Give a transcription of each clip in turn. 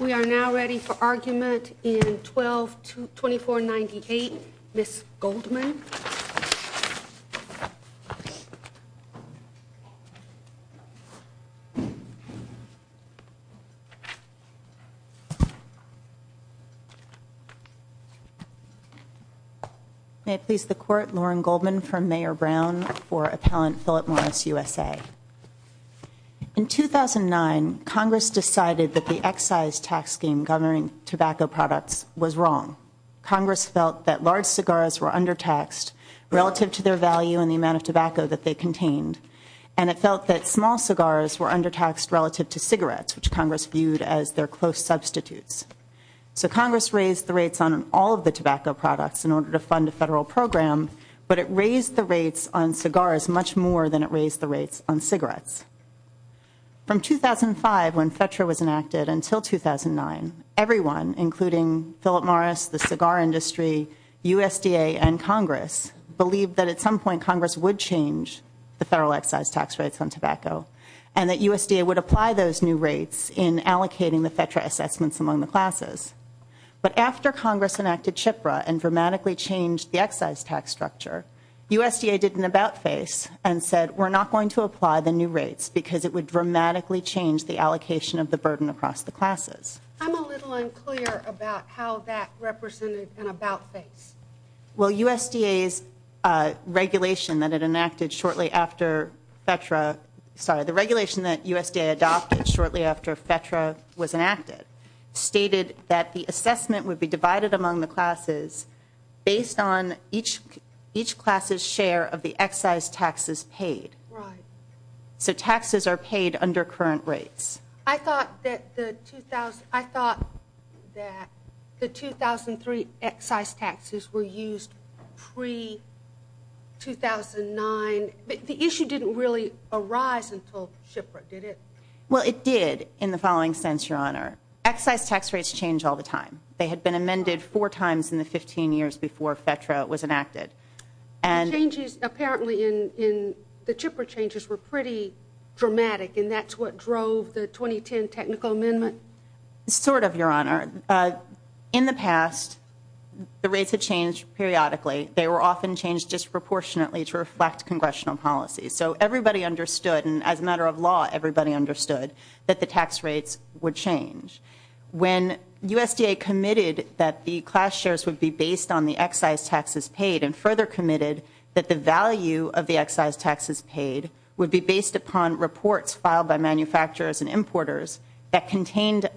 We are now ready for argument in 12-2498. Ms. Goldman. Ms. Goldman May I please the court, Lauren Goldman from Mayor Brown for Appellant Philip Morris USA. In 2009 Congress decided that the excise tax scheme governing tobacco products was wrong. Congress felt that large cigars were undertaxed relative to their value and the amount of tobacco that they contained. And it felt that small cigars were undertaxed relative to cigarettes, which Congress viewed as their close substitutes. So Congress raised the rates on all of the tobacco products in order to fund a federal program, but it raised the rates on cigars much more than it raised the rates on cigarettes. From 2005 when FETRA was enacted until 2009, everyone including Philip Morris, the cigar industry, USDA and Congress believed that at some point Congress would change the federal excise tax rates on tobacco and that USDA would apply those new rates in allocating the FETRA assessments among the classes. But after Congress enacted CHIPRA and dramatically changed the excise tax structure, USDA did an about face and said we are not going to raise the rates because it would dramatically change the allocation of the burden across the classes. I'm a little unclear about how that represented an about face. Well, USDA's regulation that it enacted shortly after FETRA, sorry, the regulation that USDA adopted shortly after FETRA was enacted stated that the assessment would be divided among the classes based on each class's share of the excise taxes paid. So taxes are paid under current rates. I thought that the 2003 excise taxes were used pre-2009, but the issue didn't really arise until CHIPRA, did it? Well it did in the following sense, Your Honor. Excise tax rates change all the time. They had been amended four times in the 15 years before FETRA was enacted. The changes apparently in the CHIPRA changes were pretty dramatic and that's what drove the 2010 technical amendment? Sort of, Your Honor. In the past, the rates had changed periodically. They were often changed disproportionately to reflect congressional policy. So everybody understood and as a matter of law, everybody understood that the tax rates would change. When USDA committed that the class shares would be based on the excise taxes paid and further committed that the value of the excise taxes paid would be based upon reports filed by manufacturers and importers that contained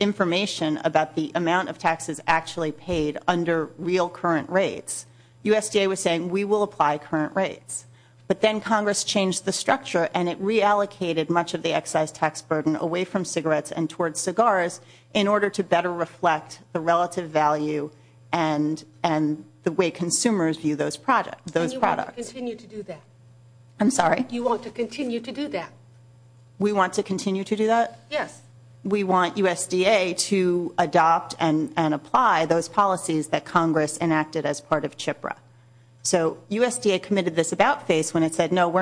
information about the amount of taxes actually paid under real current rates, USDA was saying we will apply current rates. But then Congress changed the structure and it reallocated much of the excise tax burden away from cigarettes and towards cigars in order to better reflect the relative value and the way consumers view those products. And you want to continue to do that? I'm sorry? You want to continue to do that? We want to continue to do that? Yes. We want USDA to adopt and apply those policies that Congress enacted as part of CHIPRA. So we're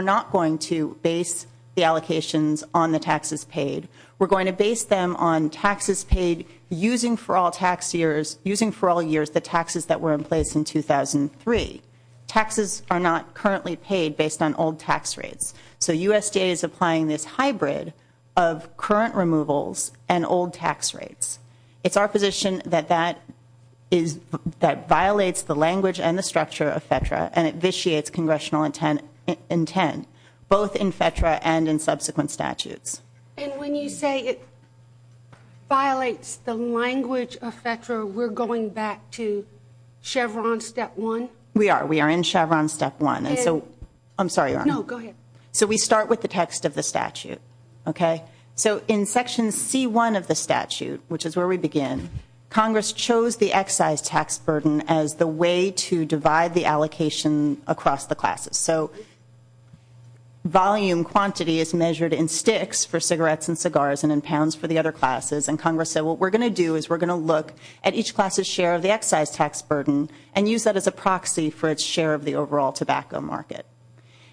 not going to base the allocations on the taxes paid. We're going to base them on taxes paid using for all tax years, using for all years the taxes that were in place in 2003. Taxes are not currently paid based on old tax rates. So USDA is applying this hybrid of current removals and old tax rates. It's our position that that is that violates the language and the structure of FEDRA and it vitiates congressional intent, both in FEDRA and in subsequent statutes. And when you say it violates the language of FEDRA, we're going back to Chevron Step 1? We are. We are in Chevron Step 1. And so, I'm sorry, Your Honor. No, go ahead. So we start with the text of the statute, okay? So in Section C1 of the statute, which is the way to divide the allocation across the classes. So volume quantity is measured in sticks for cigarettes and cigars and in pounds for the other classes. And Congress said what we're going to do is we're going to look at each class' share of the excise tax burden and use that as a proxy for its share of the overall tobacco market.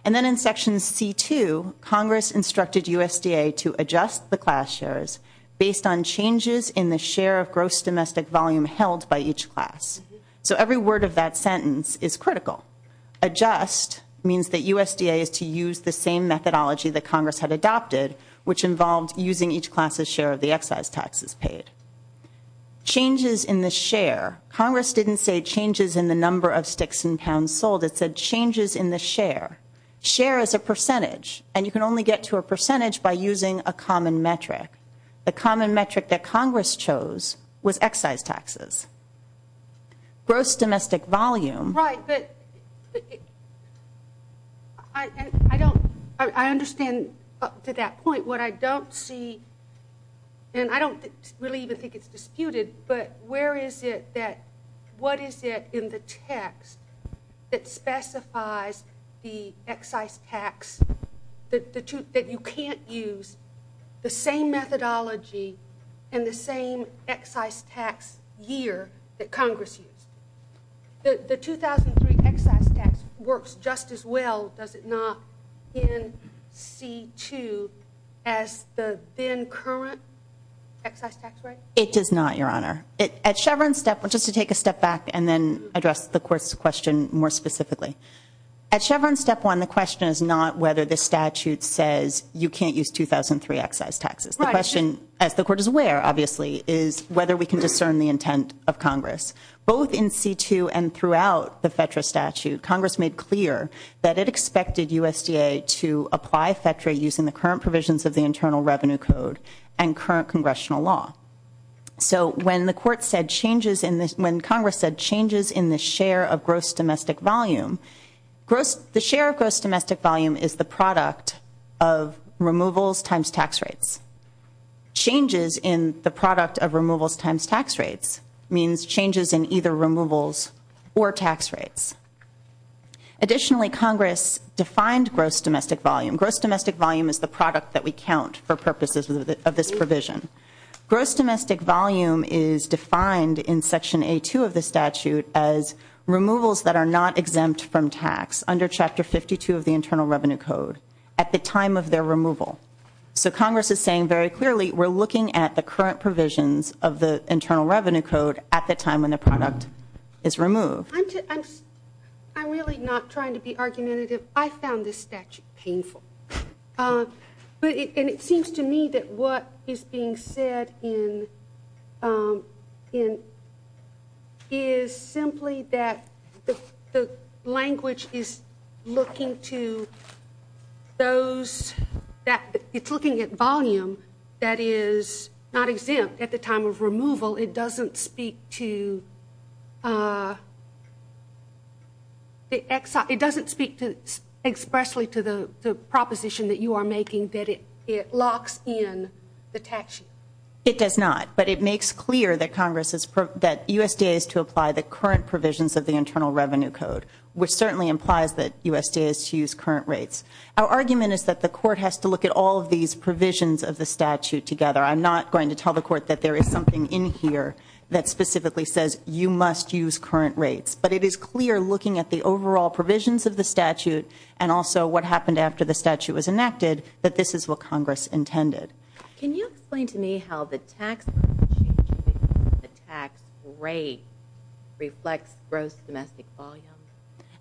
And then in Section C2, Congress instructed USDA to adjust the class shares based on changes in the share of gross domestic volume held by each class. So every word of that sentence is critical. Adjust means that USDA is to use the same methodology that Congress had adopted, which involved using each class' share of the excise taxes paid. Changes in the share. Congress didn't say changes in the number of sticks and pounds sold. It said changes in the share. Share is a percentage, and you can only get to a percentage. What Congress chose was excise taxes. Gross domestic volume. Right, but I don't, I understand up to that point. What I don't see, and I don't really even think it's disputed, but where is it that, what is it in the text that specifies the excise tax, that you can't use the same methodology and the same excise tax year that Congress used? The 2003 excise tax works just as well, does it not, in C2 as the then current excise tax rate? It does not, Your Honor. At Chevron's step, just to take a step back and then address the Court's question more specifically. At Chevron's step one, the question is not whether the statute says you can't use 2003 excise taxes. The question, as the Court is aware, obviously, is whether we can discern the intent of Congress. Both in C2 and throughout the FETRA statute, Congress made clear that it expected USDA to apply FETRA using the current provisions of the Internal Revenue Code and current Congressional law. So when the Court said changes in when Congress said changes in the share of gross domestic volume, gross the share of gross domestic volume is the product of removals times tax rates. Changes in the product of removals times tax rates means changes in either removals or tax rates. Additionally, Congress defined gross domestic volume. Gross domestic volume is the product that we count for purposes of the of this provision. Gross domestic volume is defined in Section A2 of the statute as removals that are not exempt from tax under Chapter 52 of the Internal Revenue Code at the time of their removal. So Congress is saying very clearly we're looking at the current provisions of the Internal Revenue Code at the time when the product is removed. I'm really not trying to be argumentative. I found this statute painful. And it seems to me that what is being said is simply that the language is looking to those that it's looking at volume that is not exempt at the time of removal. It doesn't speak to it doesn't speak to expressly to the proposition that you are making that it locks in the tax sheet. It does not. But it makes clear that Congress is that USDA is to apply the current provisions of the Internal Revenue Code, which certainly implies that USDA is to use current rates. Our argument is that the court has to look at all of these provisions of the statute together. I'm not going to tell the court that there is something in here that specifically says you must use current rates. But it is clear looking at the overall provisions of the statute and also what happened after the statute was enacted that this is what Congress intended. Can you explain to me how the tax rate reflects gross domestic volume?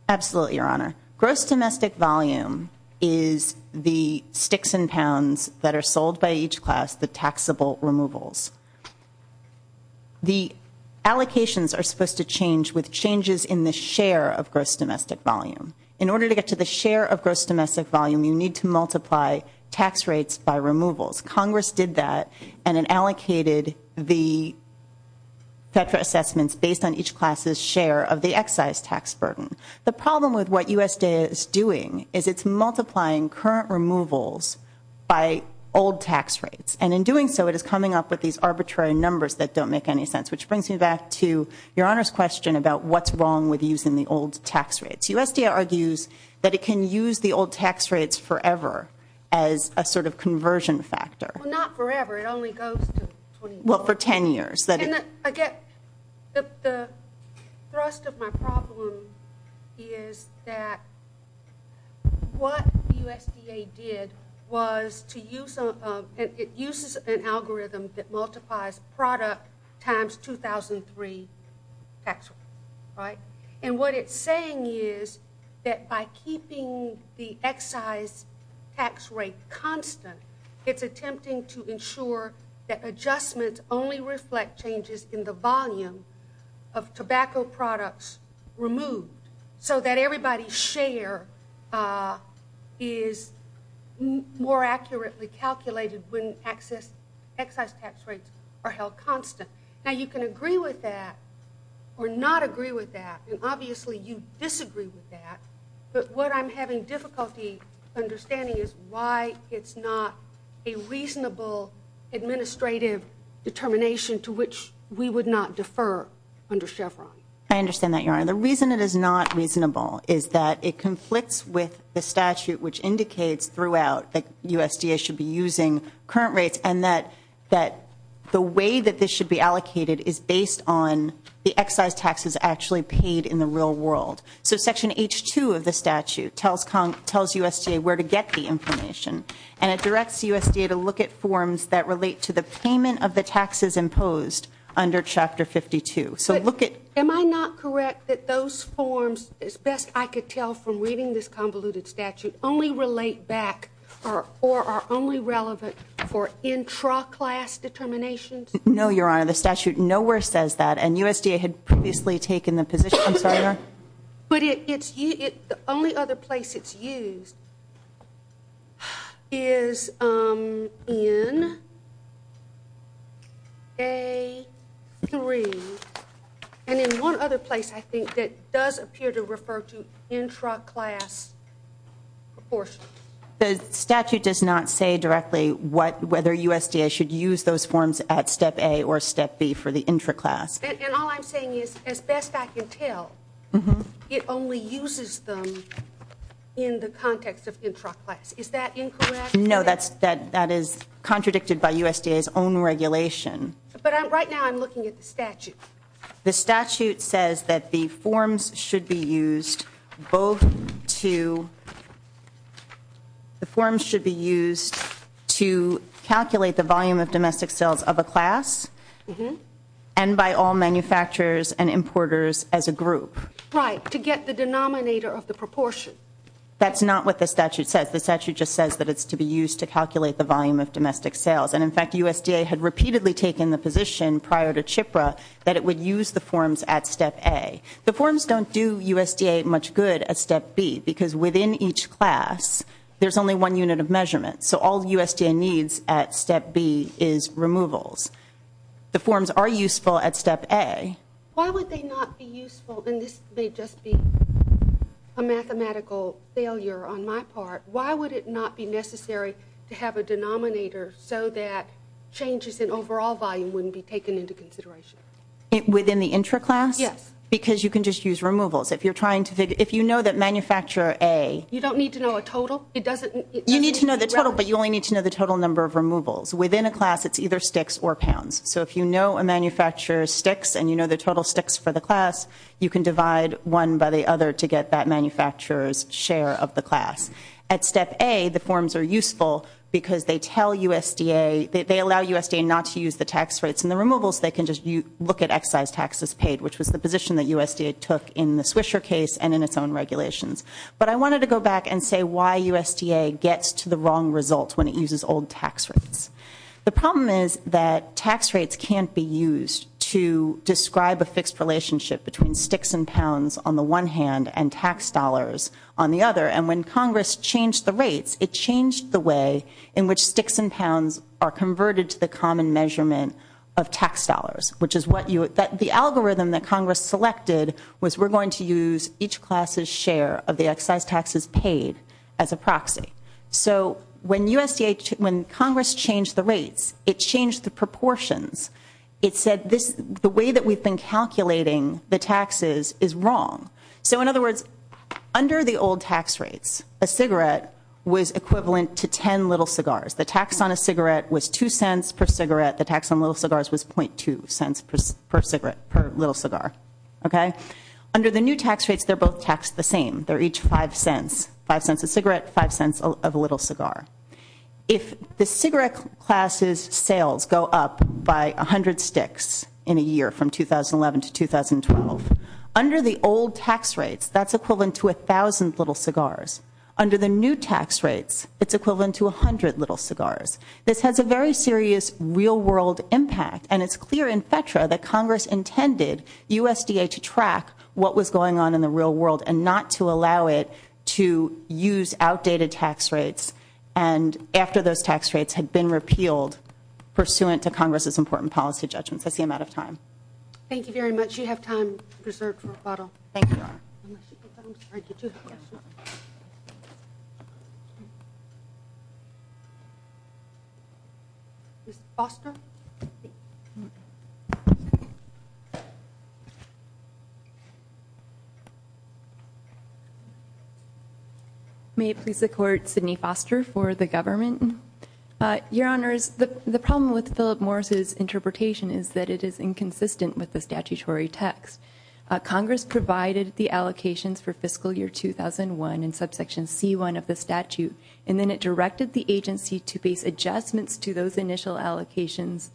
Absolutely, Your Honor. Gross domestic volume is the sticks and pounds that are sold by each class, the taxable removals. The allocations are supposed to change with changes in the share of gross domestic volume. In order to get to the share of gross domestic volume, you need to multiply tax rates by removals. Congress did that and it allocated the FEDRA assessments based on each class' share of the excise tax burden. The problem with what USDA is doing is it's multiplying current removals by old tax rates. And in doing so, it is coming up with these arbitrary numbers that don't make any sense. Which brings me back to Your Honor's question about what's wrong with using the old tax rates. USDA argues that it can use the old tax rates forever as a sort of conversion factor. Well, not forever. It only goes to 20 years. Well, for 10 years. And I get that the thrust of my problem is that what USDA did was to use an algorithm that multiplies product times 2003 tax rate. And what it's saying is that by keeping the excise tax rate constant, it's attempting to ensure that adjustments only reflect changes in the volume of tobacco products removed so that everybody's share is more accurately calculated when excise tax rates are held constant. Now, you can agree with that or not agree with that. And obviously, you disagree with that. But what I'm having difficulty understanding is why it's not a reasonable administrative determination to which we would not defer under Chevron. I understand that, Your Honor. The reason it is not reasonable is that it conflicts with the statute which indicates throughout that USDA should be using current rates and that the way that this should be allocated is based on the excise taxes actually paid in the real world. So Section H-2 of the statute tells USDA where to get the information. And it directs USDA to look at forms that relate to the payment of the taxes imposed under Chapter 52. But am I not correct that those forms, as best I could tell from reading this convoluted statute, only relate back or are only relevant for intra-class determinations? No, Your Honor. The statute nowhere says that. And USDA had previously taken the position I'm sorry, Your Honor. But the only other place it's used is in A-3. And in one other place, I think, that does appear to refer to intra-class proportion. The statute does not say directly whether USDA should use those forms at Step A or Step B for the intra-class. And all I'm saying is, as best I can tell, it only uses them in the context of intra-class. Is that incorrect? No, that is contradicted by USDA's own regulation. But right now I'm looking at the statute. The statute says that the forms should be used both to the forms should be used to calculate the volume of domestic sales of a class and by all manufacturers and importers as a group. Right. To get the denominator of the proportion. That's not what the statute says. The statute just says that it's to be used to calculate the volume of domestic sales. And in fact, USDA had repeatedly taken the position prior to CHIPRA that it would use the forms at Step A. The forms don't do USDA much good at Step B because within each class, there's only one unit of measurement. So all USDA needs at Step B is removals. The forms are useful at Step A. Why would they not be useful? And this may just be a mathematical failure on my part. Why would it not be necessary to have a denominator so that changes in overall volume wouldn't be taken into consideration? Within the intra-class? Yes. Because you can just use removals. If you're trying to figure, if you know that manufacturer A. You don't need to know a total? You need to know the total, but you only need to know the total number of removals. Within a class, it's either sticks or pounds. So if you know a manufacturer's sticks and you know the total sticks for the class, you can divide one by the other to get that manufacturer's share of the class. At Step A, the forms are useful because they tell USDA, they allow USDA not to use the tax rates and the removals. They can just look at excise taxes paid, which was the position that USDA took in the Swisher case and in its own regulations. But I wanted to go back and say why USDA gets to the wrong result when it uses old tax rates. The problem is that tax rates can't be used to describe a fixed relationship between sticks and pounds on the one hand and tax dollars on the other. And when Congress changed the rates, it changed the way in which sticks and pounds are converted to the common measurement of tax dollars, which is what you, that the algorithm that Congress selected was we're of the excise taxes paid as a proxy. So when USDA, when Congress changed the rates, it changed the proportions. It said this, the way that we've been calculating the taxes is wrong. So in other words, under the old tax rates, a cigarette was equivalent to ten little cigars. The tax on a cigarette was two cents per cigarette. The tax on little cigars was .2 cents per cigarette, per little cigar. Okay? Under the new tax rates, they're both taxed the same. They're each five cents. Five cents a cigarette, five cents of a little cigar. If the cigarette class's sales go up by 100 sticks in a year from 2011 to 2012, under the old tax rates, that's equivalent to a thousand little cigars. Under the new tax rates, it's equivalent to 100 little cigars. This has a very serious real world impact and it's clear in FETRA that Congress intended USDA to track what was going on in the real world and not to allow it to use outdated tax rates and after those tax rates had been repealed pursuant to Congress's important policy judgments. I see I'm out of time. Thank you very much. You have time preserved for a bottle. May it please the Court, Sydney Foster for the government. Your Honors, the problem with Philip Morris' interpretation is that it is inconsistent with the statutory text. Congress provided the allocations for fiscal year 2001 in subsection C1 of the statute and then it directed the agency to base adjustments to those initial allocations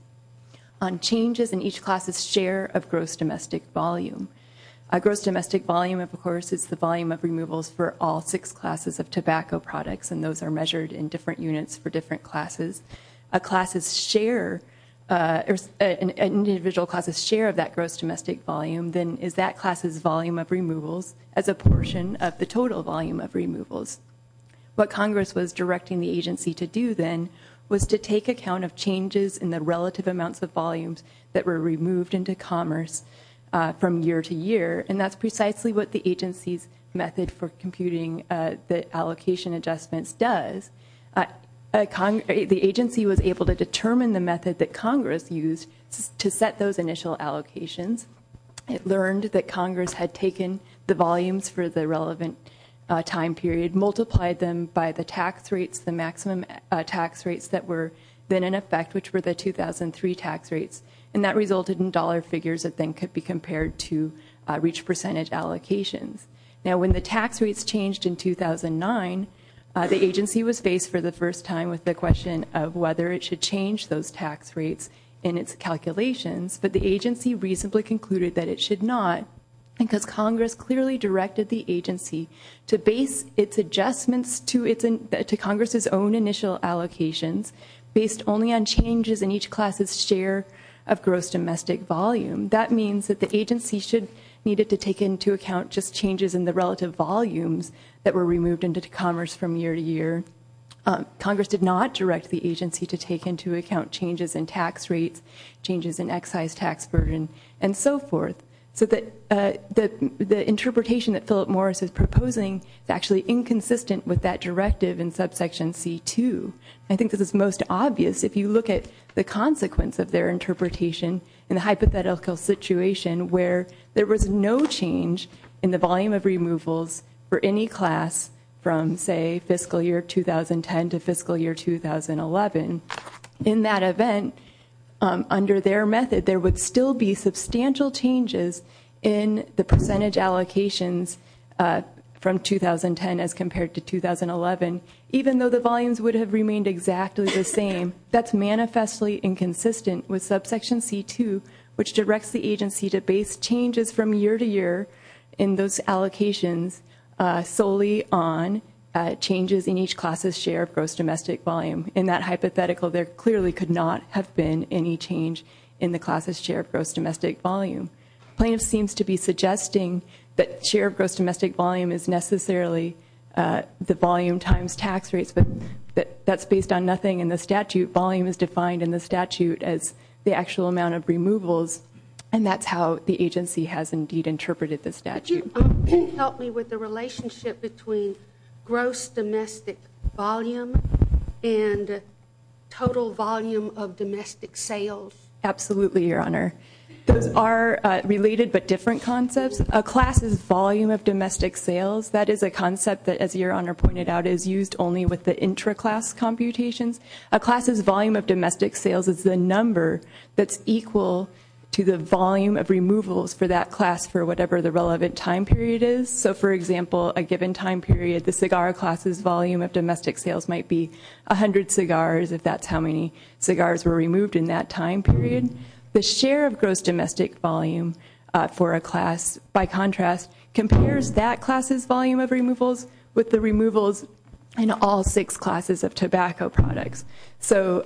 on changes in each class's share of gross domestic volume. A gross domestic volume, of course, is the volume of removals for all six classes of tobacco products and those are measured in different units for different classes. A class's share, an individual class's share of that gross domestic volume then is that class's volume of removals as a portion of the total volume of removals. What Congress was directing the agency to do then was to take account of changes in the relative amounts of volumes that were removed into commerce from year to year and that's precisely what the agency's method for computing the allocation adjustments does. The agency was able to determine the method that Congress used to set those initial allocations. It learned that Congress had taken the volumes for the relevant time period, it multiplied them by the tax rates, the maximum tax rates that were then in effect, which were the 2003 tax rates, and that resulted in dollar figures that then could be compared to reach percentage allocations. Now when the tax rates changed in 2009, the agency was faced for the first time with the question of whether it should change those tax rates in its calculations, but the agency reasonably concluded that it should not because Congress clearly directed the agency to base its adjustments to Congress's own initial allocations based only on changes in each class's share of gross domestic volume. That means that the agency should needed to take into account just changes in the relative volumes that were removed into commerce from year to year. Congress did not direct the agency to take into account changes in tax rates, changes in excise tax burden, and so forth. So the interpretation that Philip Morris is proposing is actually inconsistent with that directive in subsection C-2. I think this is most obvious if you look at the consequence of their interpretation in a hypothetical situation where there was no change in the volume of removals for any class from, say, fiscal year 2010 to fiscal year 2011. In that event, under their method, there would still be substantial changes in the percentage allocations from 2010 as compared to 2011, even though the volumes would have remained exactly the same. That's manifestly inconsistent with subsection C-2, which directs the agency to base changes from year to year in those allocations solely on changes in each class's share of gross domestic volume. In that hypothetical, there clearly could not have been any change in the class's share of gross domestic volume. Plaintiff seems to be suggesting that share of gross domestic volume is necessarily the volume times tax rates, but that's based on nothing in the statute. Volume is defined in the statute as the actual amount of removals, and that's how the agency has indeed interpreted the statute. Could you help me with the relationship between gross domestic volume and total volume of domestic sales? Absolutely, Your Honor. Those are related but different concepts. A class's volume of domestic sales, that is a concept that, as Your Honor pointed out, is used only with the intra-class computations. A class's volume of domestic sales is the number that's equal to the volume of removals for that class for whatever the relevant time period is. So, for example, a given time period, the cigar class's volume of domestic sales might be 100 cigars, if that's how many cigars were removed in that time period. The share of gross domestic volume for a class, by contrast, compares that class's volume of removals with the removals in all six classes of tobacco products. So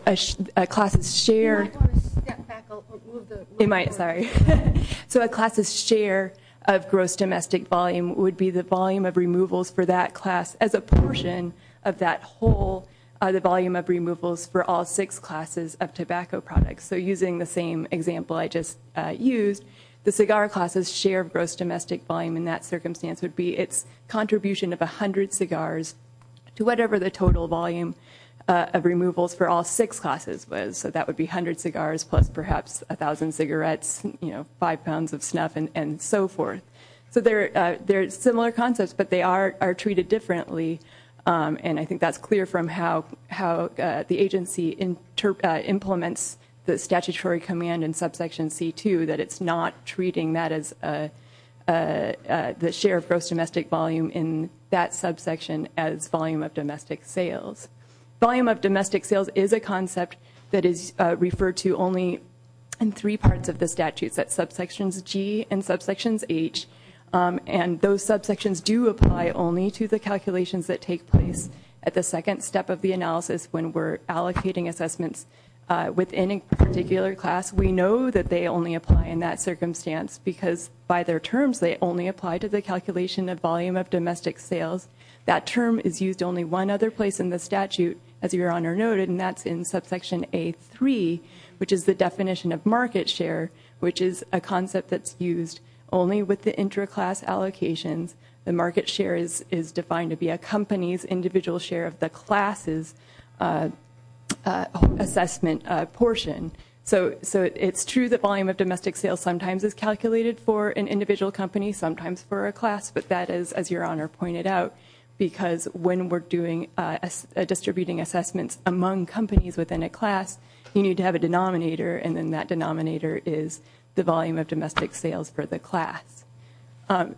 a class's share I want to step back a little bit. You might. Sorry. So a class's share of gross domestic volume would be the volume of removals for that class as a portion of that whole, the volume of removals for all six classes of tobacco products. So using the same example I just used, the cigar class's share of gross domestic volume in that circumstance would be its contribution of 100 cigars to whatever the total volume of removals for all six classes was. So that would be 100 cigars plus perhaps 1,000 cigarettes, you know, 5 pounds of snuff and so forth. So they're similar concepts but they are treated differently and I think that's clear from how the agency implements the statutory command in subsection C2 that it's not treating that as the share of gross domestic volume in that subsection as volume of domestic sales. Volume of domestic sales is a concept that is referred to only in three parts of the statutes, that's subsections G and subsections H, and those subsections do apply only to the calculations that take place at the second step of the analysis when we're allocating assessments within a particular class. We know that they only apply in that circumstance because by their terms they only apply to the calculation of volume of domestic sales. That term is used only one other place in the statute, as Your Honor noted, and that's in subsection A3, which is the definition of market share, which is a concept that's used only with the intra-class allocations. The market share is defined to be a company's individual share of the class's assessment portion. So it's true that volume of domestic sales sometimes is calculated for an individual company, sometimes for a class, but that is, as Your Honor pointed out, because when we're doing distributing assessments among companies within a class, you need to have a denominator and then that denominator is the volume of domestic sales for the class. Now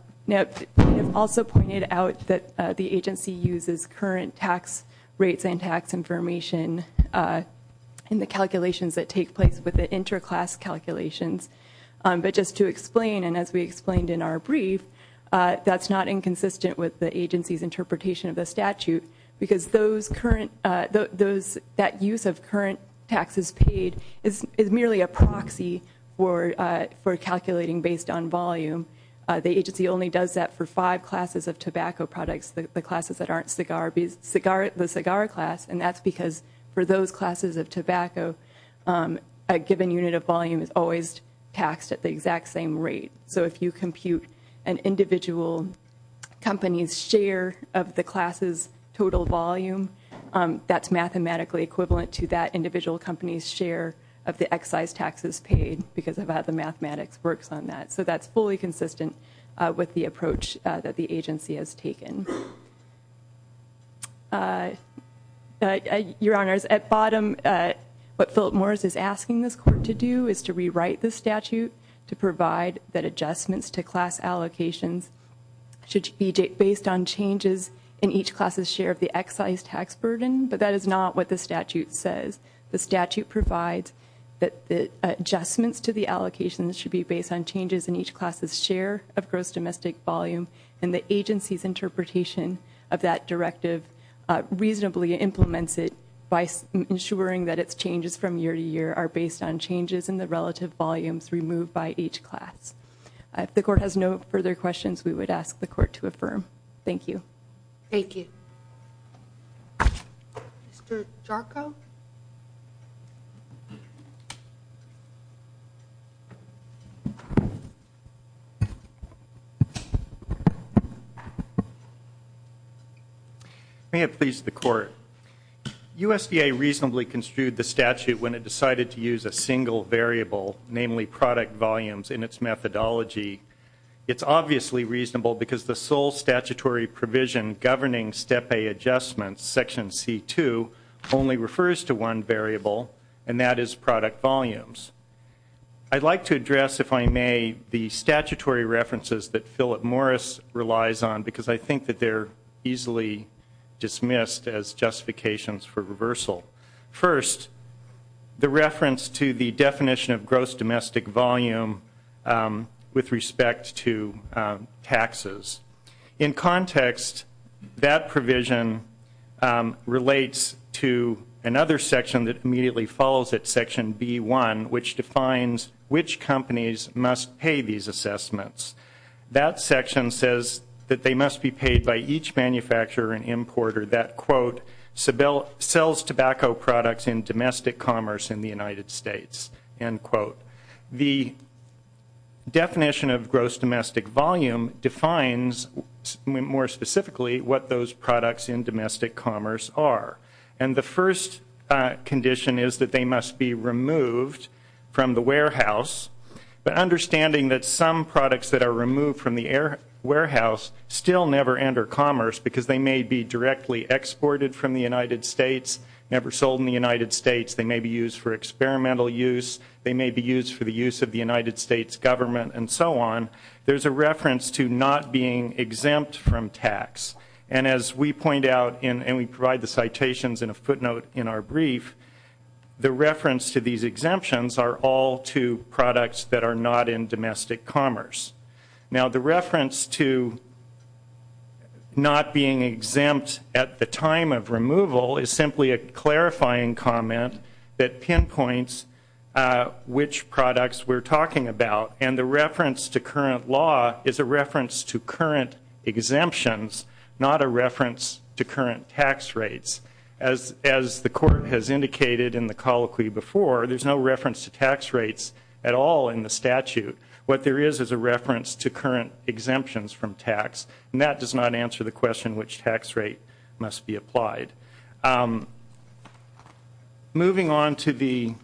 we have also pointed out that the agency uses current tax rates and tax information in the calculations that take place with the intra-class calculations. But just to explain, and as we explained in our brief, that's not inconsistent with the agency's interpretation of the statute because those current, that use of current taxes paid is merely a proxy for calculating based on volume. The agency only does that for five classes of tobacco products, the classes that a given unit of volume is always taxed at the exact same rate. So if you compute an individual company's share of the class's total volume, that's mathematically equivalent to that individual company's share of the excise taxes paid because of how the mathematics works on that. So that's fully consistent with the approach that the agency has taken. Your Honors, at bottom, what Philip Morris is asking this court to do is to rewrite the statute to provide that adjustments to class allocations should be based on changes in each class's share of the excise tax burden, but that is not what the statute says. The statute provides that the adjustments to the allocations should be based on changes in each class's share of gross domestic volume, and the agency's interpretation of that directive reasonably implements it by ensuring that its changes from year to year are based on changes in the relative volumes removed by each class. If the court has no further questions, we would ask the court to affirm. Thank you. Thank you. Mr. Jarko? May it please the Court. USDA reasonably construed the statute when it decided to use a single variable, namely product volumes, in its methodology. It's obviously reasonable because the sole statutory provision governing Step A adjustments, Section C-2, only refers to one variable, and that is product volumes. I'd like to address, if I may, the statutory references that Philip Morris relies on because I think that they're easily dismissed as justifications for reversal. First, the reference to the definition of gross domestic volume with respect to taxes. In context, that provision relates to another section that immediately follows it, Section B-1, which defines which companies must pay these assessments. That section says that they must be paid by each manufacturer and importer that, quote, sells tobacco products in domestic commerce in the United States, end quote. The definition of gross domestic volume defines, more specifically, what those products in domestic commerce are. And the first condition is that they must be removed from the warehouse, but understanding that some products that are removed from the warehouse still never enter commerce because they may be directly exported from the United States, never sold in the United States, they may be used for experimental use, they may be used for the use of the United States government, and so on, there's a reference to not being exempt from tax. And as we point out, and we provide the citations in a footnote in our brief, the reference to these exemptions are all to products that are not in domestic commerce. Now the reference to not being exempt at the time of removal is simply a clarifying comment that pinpoints which products we're talking about. The reference to current law is a reference to current exemptions, not a reference to current tax rates. As the court has indicated in the colloquy before, there's no reference to tax rates at all in the statute. What there is is a reference to current exemptions from tax, and that does not answer the question which tax rate must be applied. Moving on to the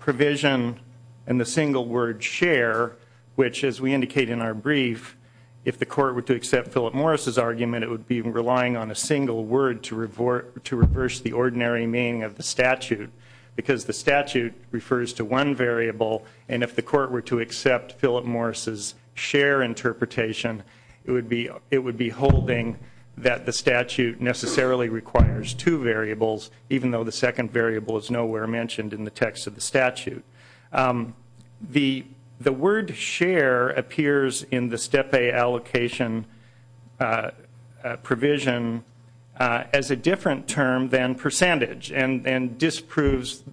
provision and the single word share, which as we indicate in our brief, if the court were to accept Philip Morris' argument, it would be relying on a single word to reverse the ordinary meaning of the statute, because the statute refers to one variable, and if the court were to accept Philip Morris' share interpretation, it would be holding that the variable is nowhere mentioned in the text of the statute. The word share appears in the Step A allocation provision as a different term than percentage, and disproves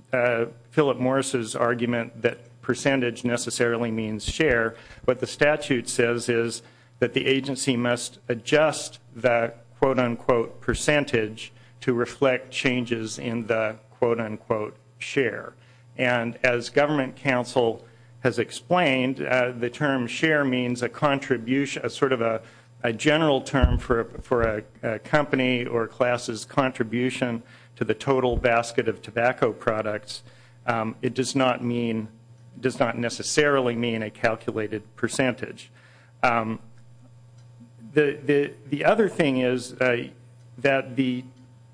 Philip Morris' argument that percentage necessarily means share. What the statute says is that the agency must adjust the quote unquote percentage to reflect changes in the quote unquote percentage of the quote unquote share. And as government counsel has explained, the term share means a contribution, sort of a general term for a company or class' contribution to the total basket of tobacco products. It does not mean, does not necessarily mean a calculated percentage. The other thing is that the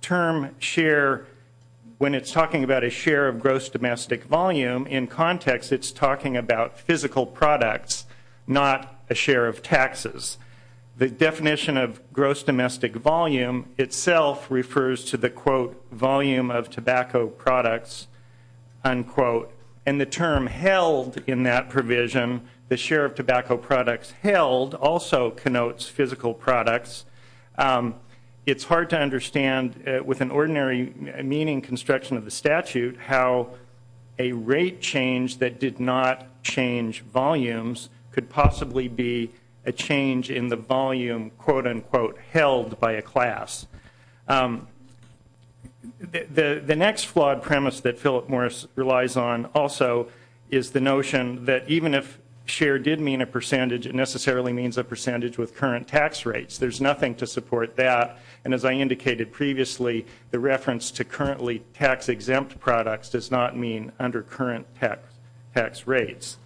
term share, when it's talking about a share of gross domestic volume, in context it's talking about physical products, not a share of taxes. The definition of gross domestic volume itself refers to the quote volume of tobacco products, unquote, and the term held in that provision, the share of tobacco products held, also connotes physical products. It's hard to understand with an ordinary meaning construction of the statute how a rate change that did not change volumes could possibly be a change in the volume quote unquote held by a class. The next flawed premise that Philip Morris relies on, of course, is also is the notion that even if share did mean a percentage, it necessarily means a percentage with current tax rates. There's nothing to support that. And as I indicated previously, the reference to currently tax exempt products does not mean under current tax rates.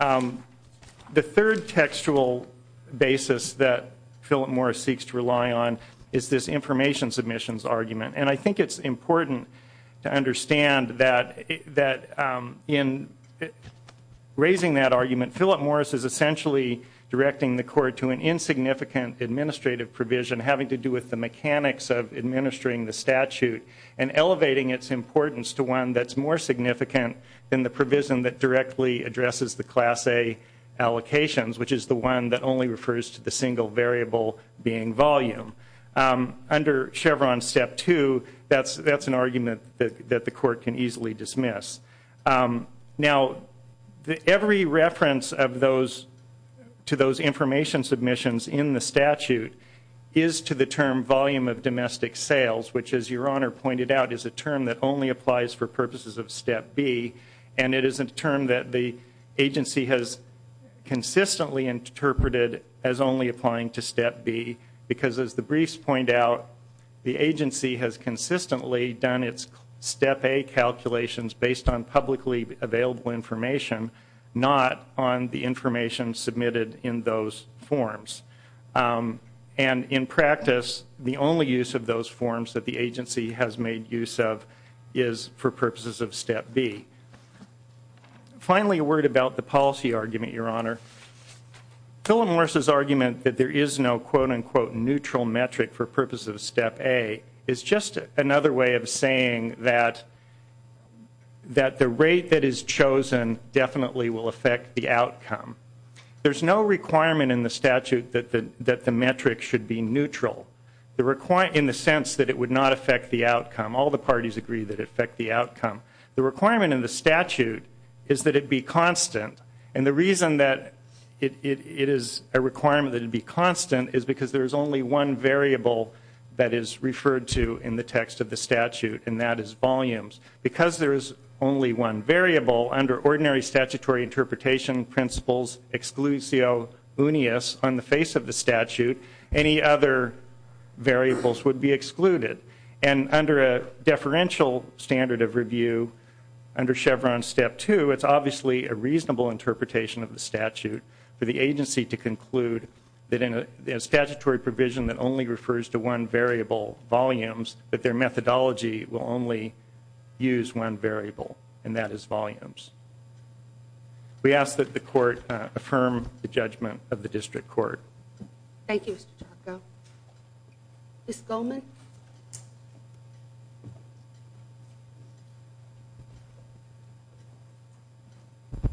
The third textual basis that Philip Morris seeks to rely on is this information submissions argument. And I think it's important to understand that in raising that argument, Philip Morris is essentially directing the court to an insignificant administrative provision having to do with the mechanics of administering the statute and elevating its importance to one that's more significant than the provision that directly addresses the class A allocations, which is the one that only refers to the single variable being volume. Under Chevron Step 2, that's an argument that the court can easily dismiss. Now, every reference to those information submissions in the statute is to the term volume of domestic sales, which as your honor pointed out is a term that only applies for purposes of Step B. And it is a term that the agency has consistently interpreted as only applying to Step B because as the briefs point out, the agency has consistently done its Step A calculations based on publicly available information, not on the information submitted in those forms. And in practice, the only use of those forms that the agency has made use of is for purposes of Step B. Finally, a word about the policy argument, your honor. Philip Morris' argument that there is no quote unquote neutral metric for purposes of Step A is just another way of saying that the rate that is chosen definitely will affect the outcome. There's no requirement in the statute that the metric should be neutral in the sense that it would not affect the outcome of the statute is that it be constant. And the reason that it is a requirement that it be constant is because there is only one variable that is referred to in the text of the statute and that is volumes. Because there is only one variable under ordinary statutory interpretation principles, exclusio unius on the face of the statute, any other variables would be excluded. And under a deferential standard of review, under Chevron Step 2, it's obviously a reasonable interpretation of the statute for the agency to conclude that in a statutory provision that only refers to one variable, volumes, that their methodology will only use one variable and that is volumes. We ask that the court affirm the judgment of the district court. Thank you, Mr. Tarko. Ms. Goldman?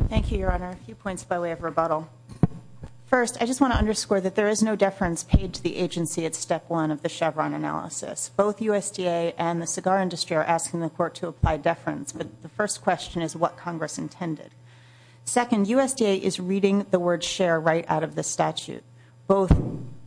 Thank you, your honor. A few points by way of rebuttal. First, I just want to underscore that there is no deference paid to the agency at Step 1 of the Chevron analysis. Both USDA and the cigar industry are asking the court to apply deference, but the first question is what Congress intended. Second, USDA is reading the word share right out of the statute. Both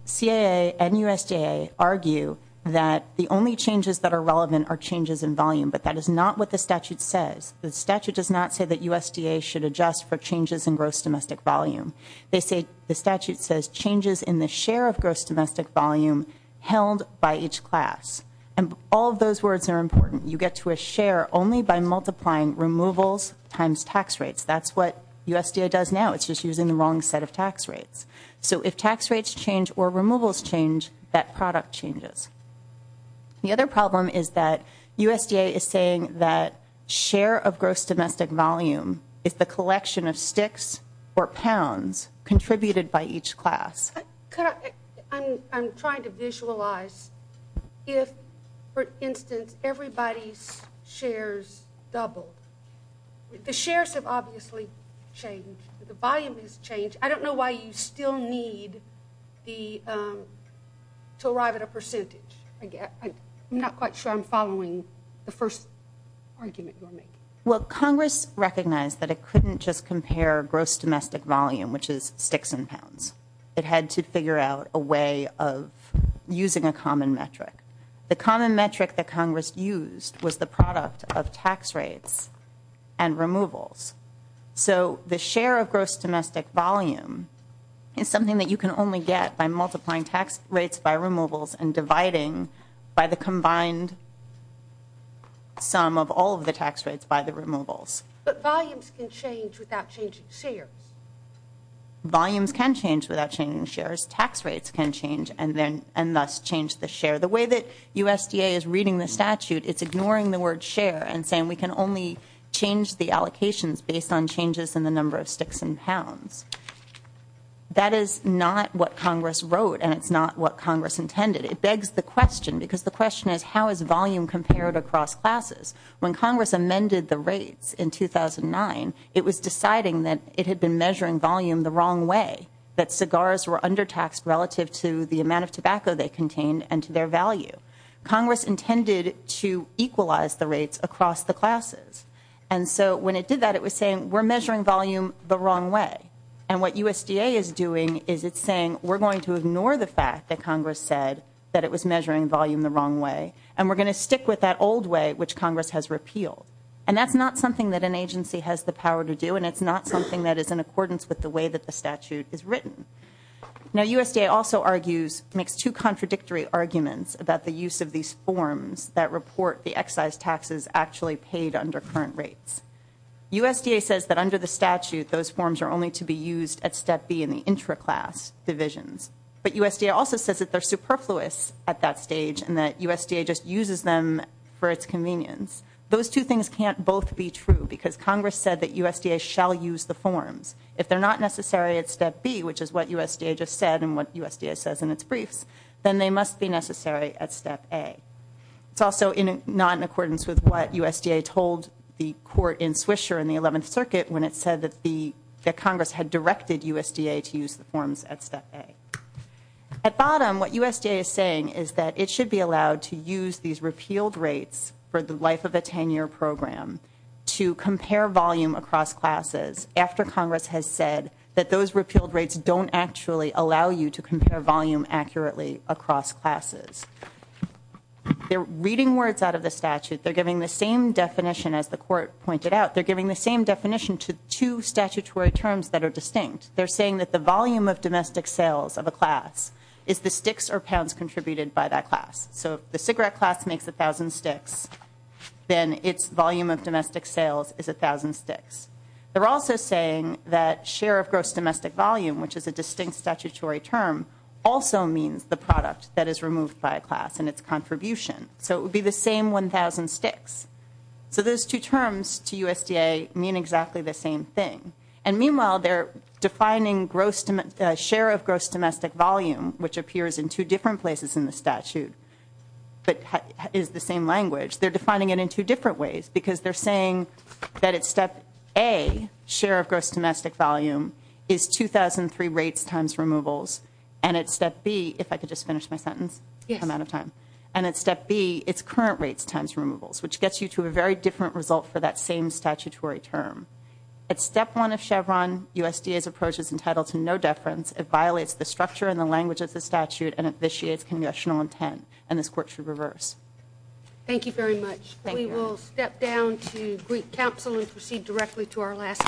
CAA and USDA argue that the only changes that are relevant are changes in volume, but that is not what the statute says. The statute does not say that USDA should adjust for changes in gross domestic volume. They say the statute says changes in the share of gross domestic volume held by each class. And all of those words are important. You get to a share only by multiplying removals times tax rates. That's what USDA does now. It's just using the wrong set of tax rates. So if tax rates change or removals change, that product changes. The other problem is that USDA is saying that share of gross domestic volume is the collection of sticks or pounds contributed by each class. I'm trying to visualize if, for instance, everybody's shares doubled. The shares have obviously changed. The volume has changed. I don't know why you still need to arrive at a percentage. I'm not quite sure I'm following the first argument you're making. Well, Congress recognized that it couldn't just compare gross domestic volume, which is sticks and pounds. It had to figure out a way of using a common metric. The common metric that Congress used was the product of tax rates and removals. So the share of gross domestic volume is something that you can only get by multiplying tax rates by removals and dividing by the combined sum of all of the tax rates by the removals. But volumes can change without changing shares. Volumes can change without changing shares. Tax rates can change and thus change the share. The way that USDA is reading the statute, it's ignoring the word share and saying we can only change the allocations based on changes in the number of sticks and pounds. That is not what Congress wrote and it's not what Congress intended. It begs the question because the question is how is volume compared across classes? When Congress amended the rates in 2009, it was deciding that it had been measuring volume the wrong way, that cigars were undertaxed relative to the amount of tobacco they contained and to their value. Congress intended to equalize the rates across the classes. And so when it did that, it was saying we're measuring volume the wrong way. And what USDA is doing is it's saying we're going to ignore the fact that Congress said that it was measuring volume the wrong way and we're going to stick with that old way which Congress has repealed. And that's not something that an agency has the power to do and it's not something that is in accordance with the way that the statute is written. Now USDA also argues, makes two contradictory arguments about the use of these forms that report the excise taxes actually paid under current rates. USDA says that under the statute, those forms are only to be used at step B in the intra-class divisions. But USDA also says that they're superfluous at that stage and that USDA just uses them for its convenience. Those two things can't both be true because Congress said that USDA shall use the forms. If they're not necessary at step B, which is what USDA just said and what USDA says in its briefs, then they must be necessary at step A. It's also not in accordance with what USDA told the court in Swisher in the 11th Circuit when it said that Congress had directed USDA to use the forms at step A. At bottom, what USDA is saying is that it should be allowed to use these repealed rates for the life of a 10-year program to compare volume across classes after Congress has said that those repealed rates don't actually allow you to compare volume accurately across classes. They're reading words out of the statute. They're giving the same definition as the court pointed out. They're giving the same definition to two statutory terms that are distinct. They're saying that the volume of domestic sales of a class is the sticks or pounds contributed by that class. So if a cigarette class makes 1,000 sticks, then its volume of domestic sales is 1,000 sticks. They're also saying that share of gross domestic volume, which is a distinct statutory term, also means the product that is removed by a class and its contribution. So it would be the same 1,000 sticks. So those two terms to USDA mean exactly the same thing. And meanwhile, they're defining gross share of gross domestic volume, which appears in two different places in the statute, but is the same language. They're defining it in two different ways because they're saying that at step A, share of gross domestic volume is 2,003 rates times removals, and at step B, if I could just finish my sentence, I'm out of time, and at step B, it's current rates times removals, which gets you to a very different result for that same statutory term. At step 1 of Chevron, USDA's approach is entitled to no deference. It violates the structure and the language of the statute, and it vitiates congressional intent, and this Court should reverse. Thank you very much. We will step down to Greek Council and proceed directly to our last case.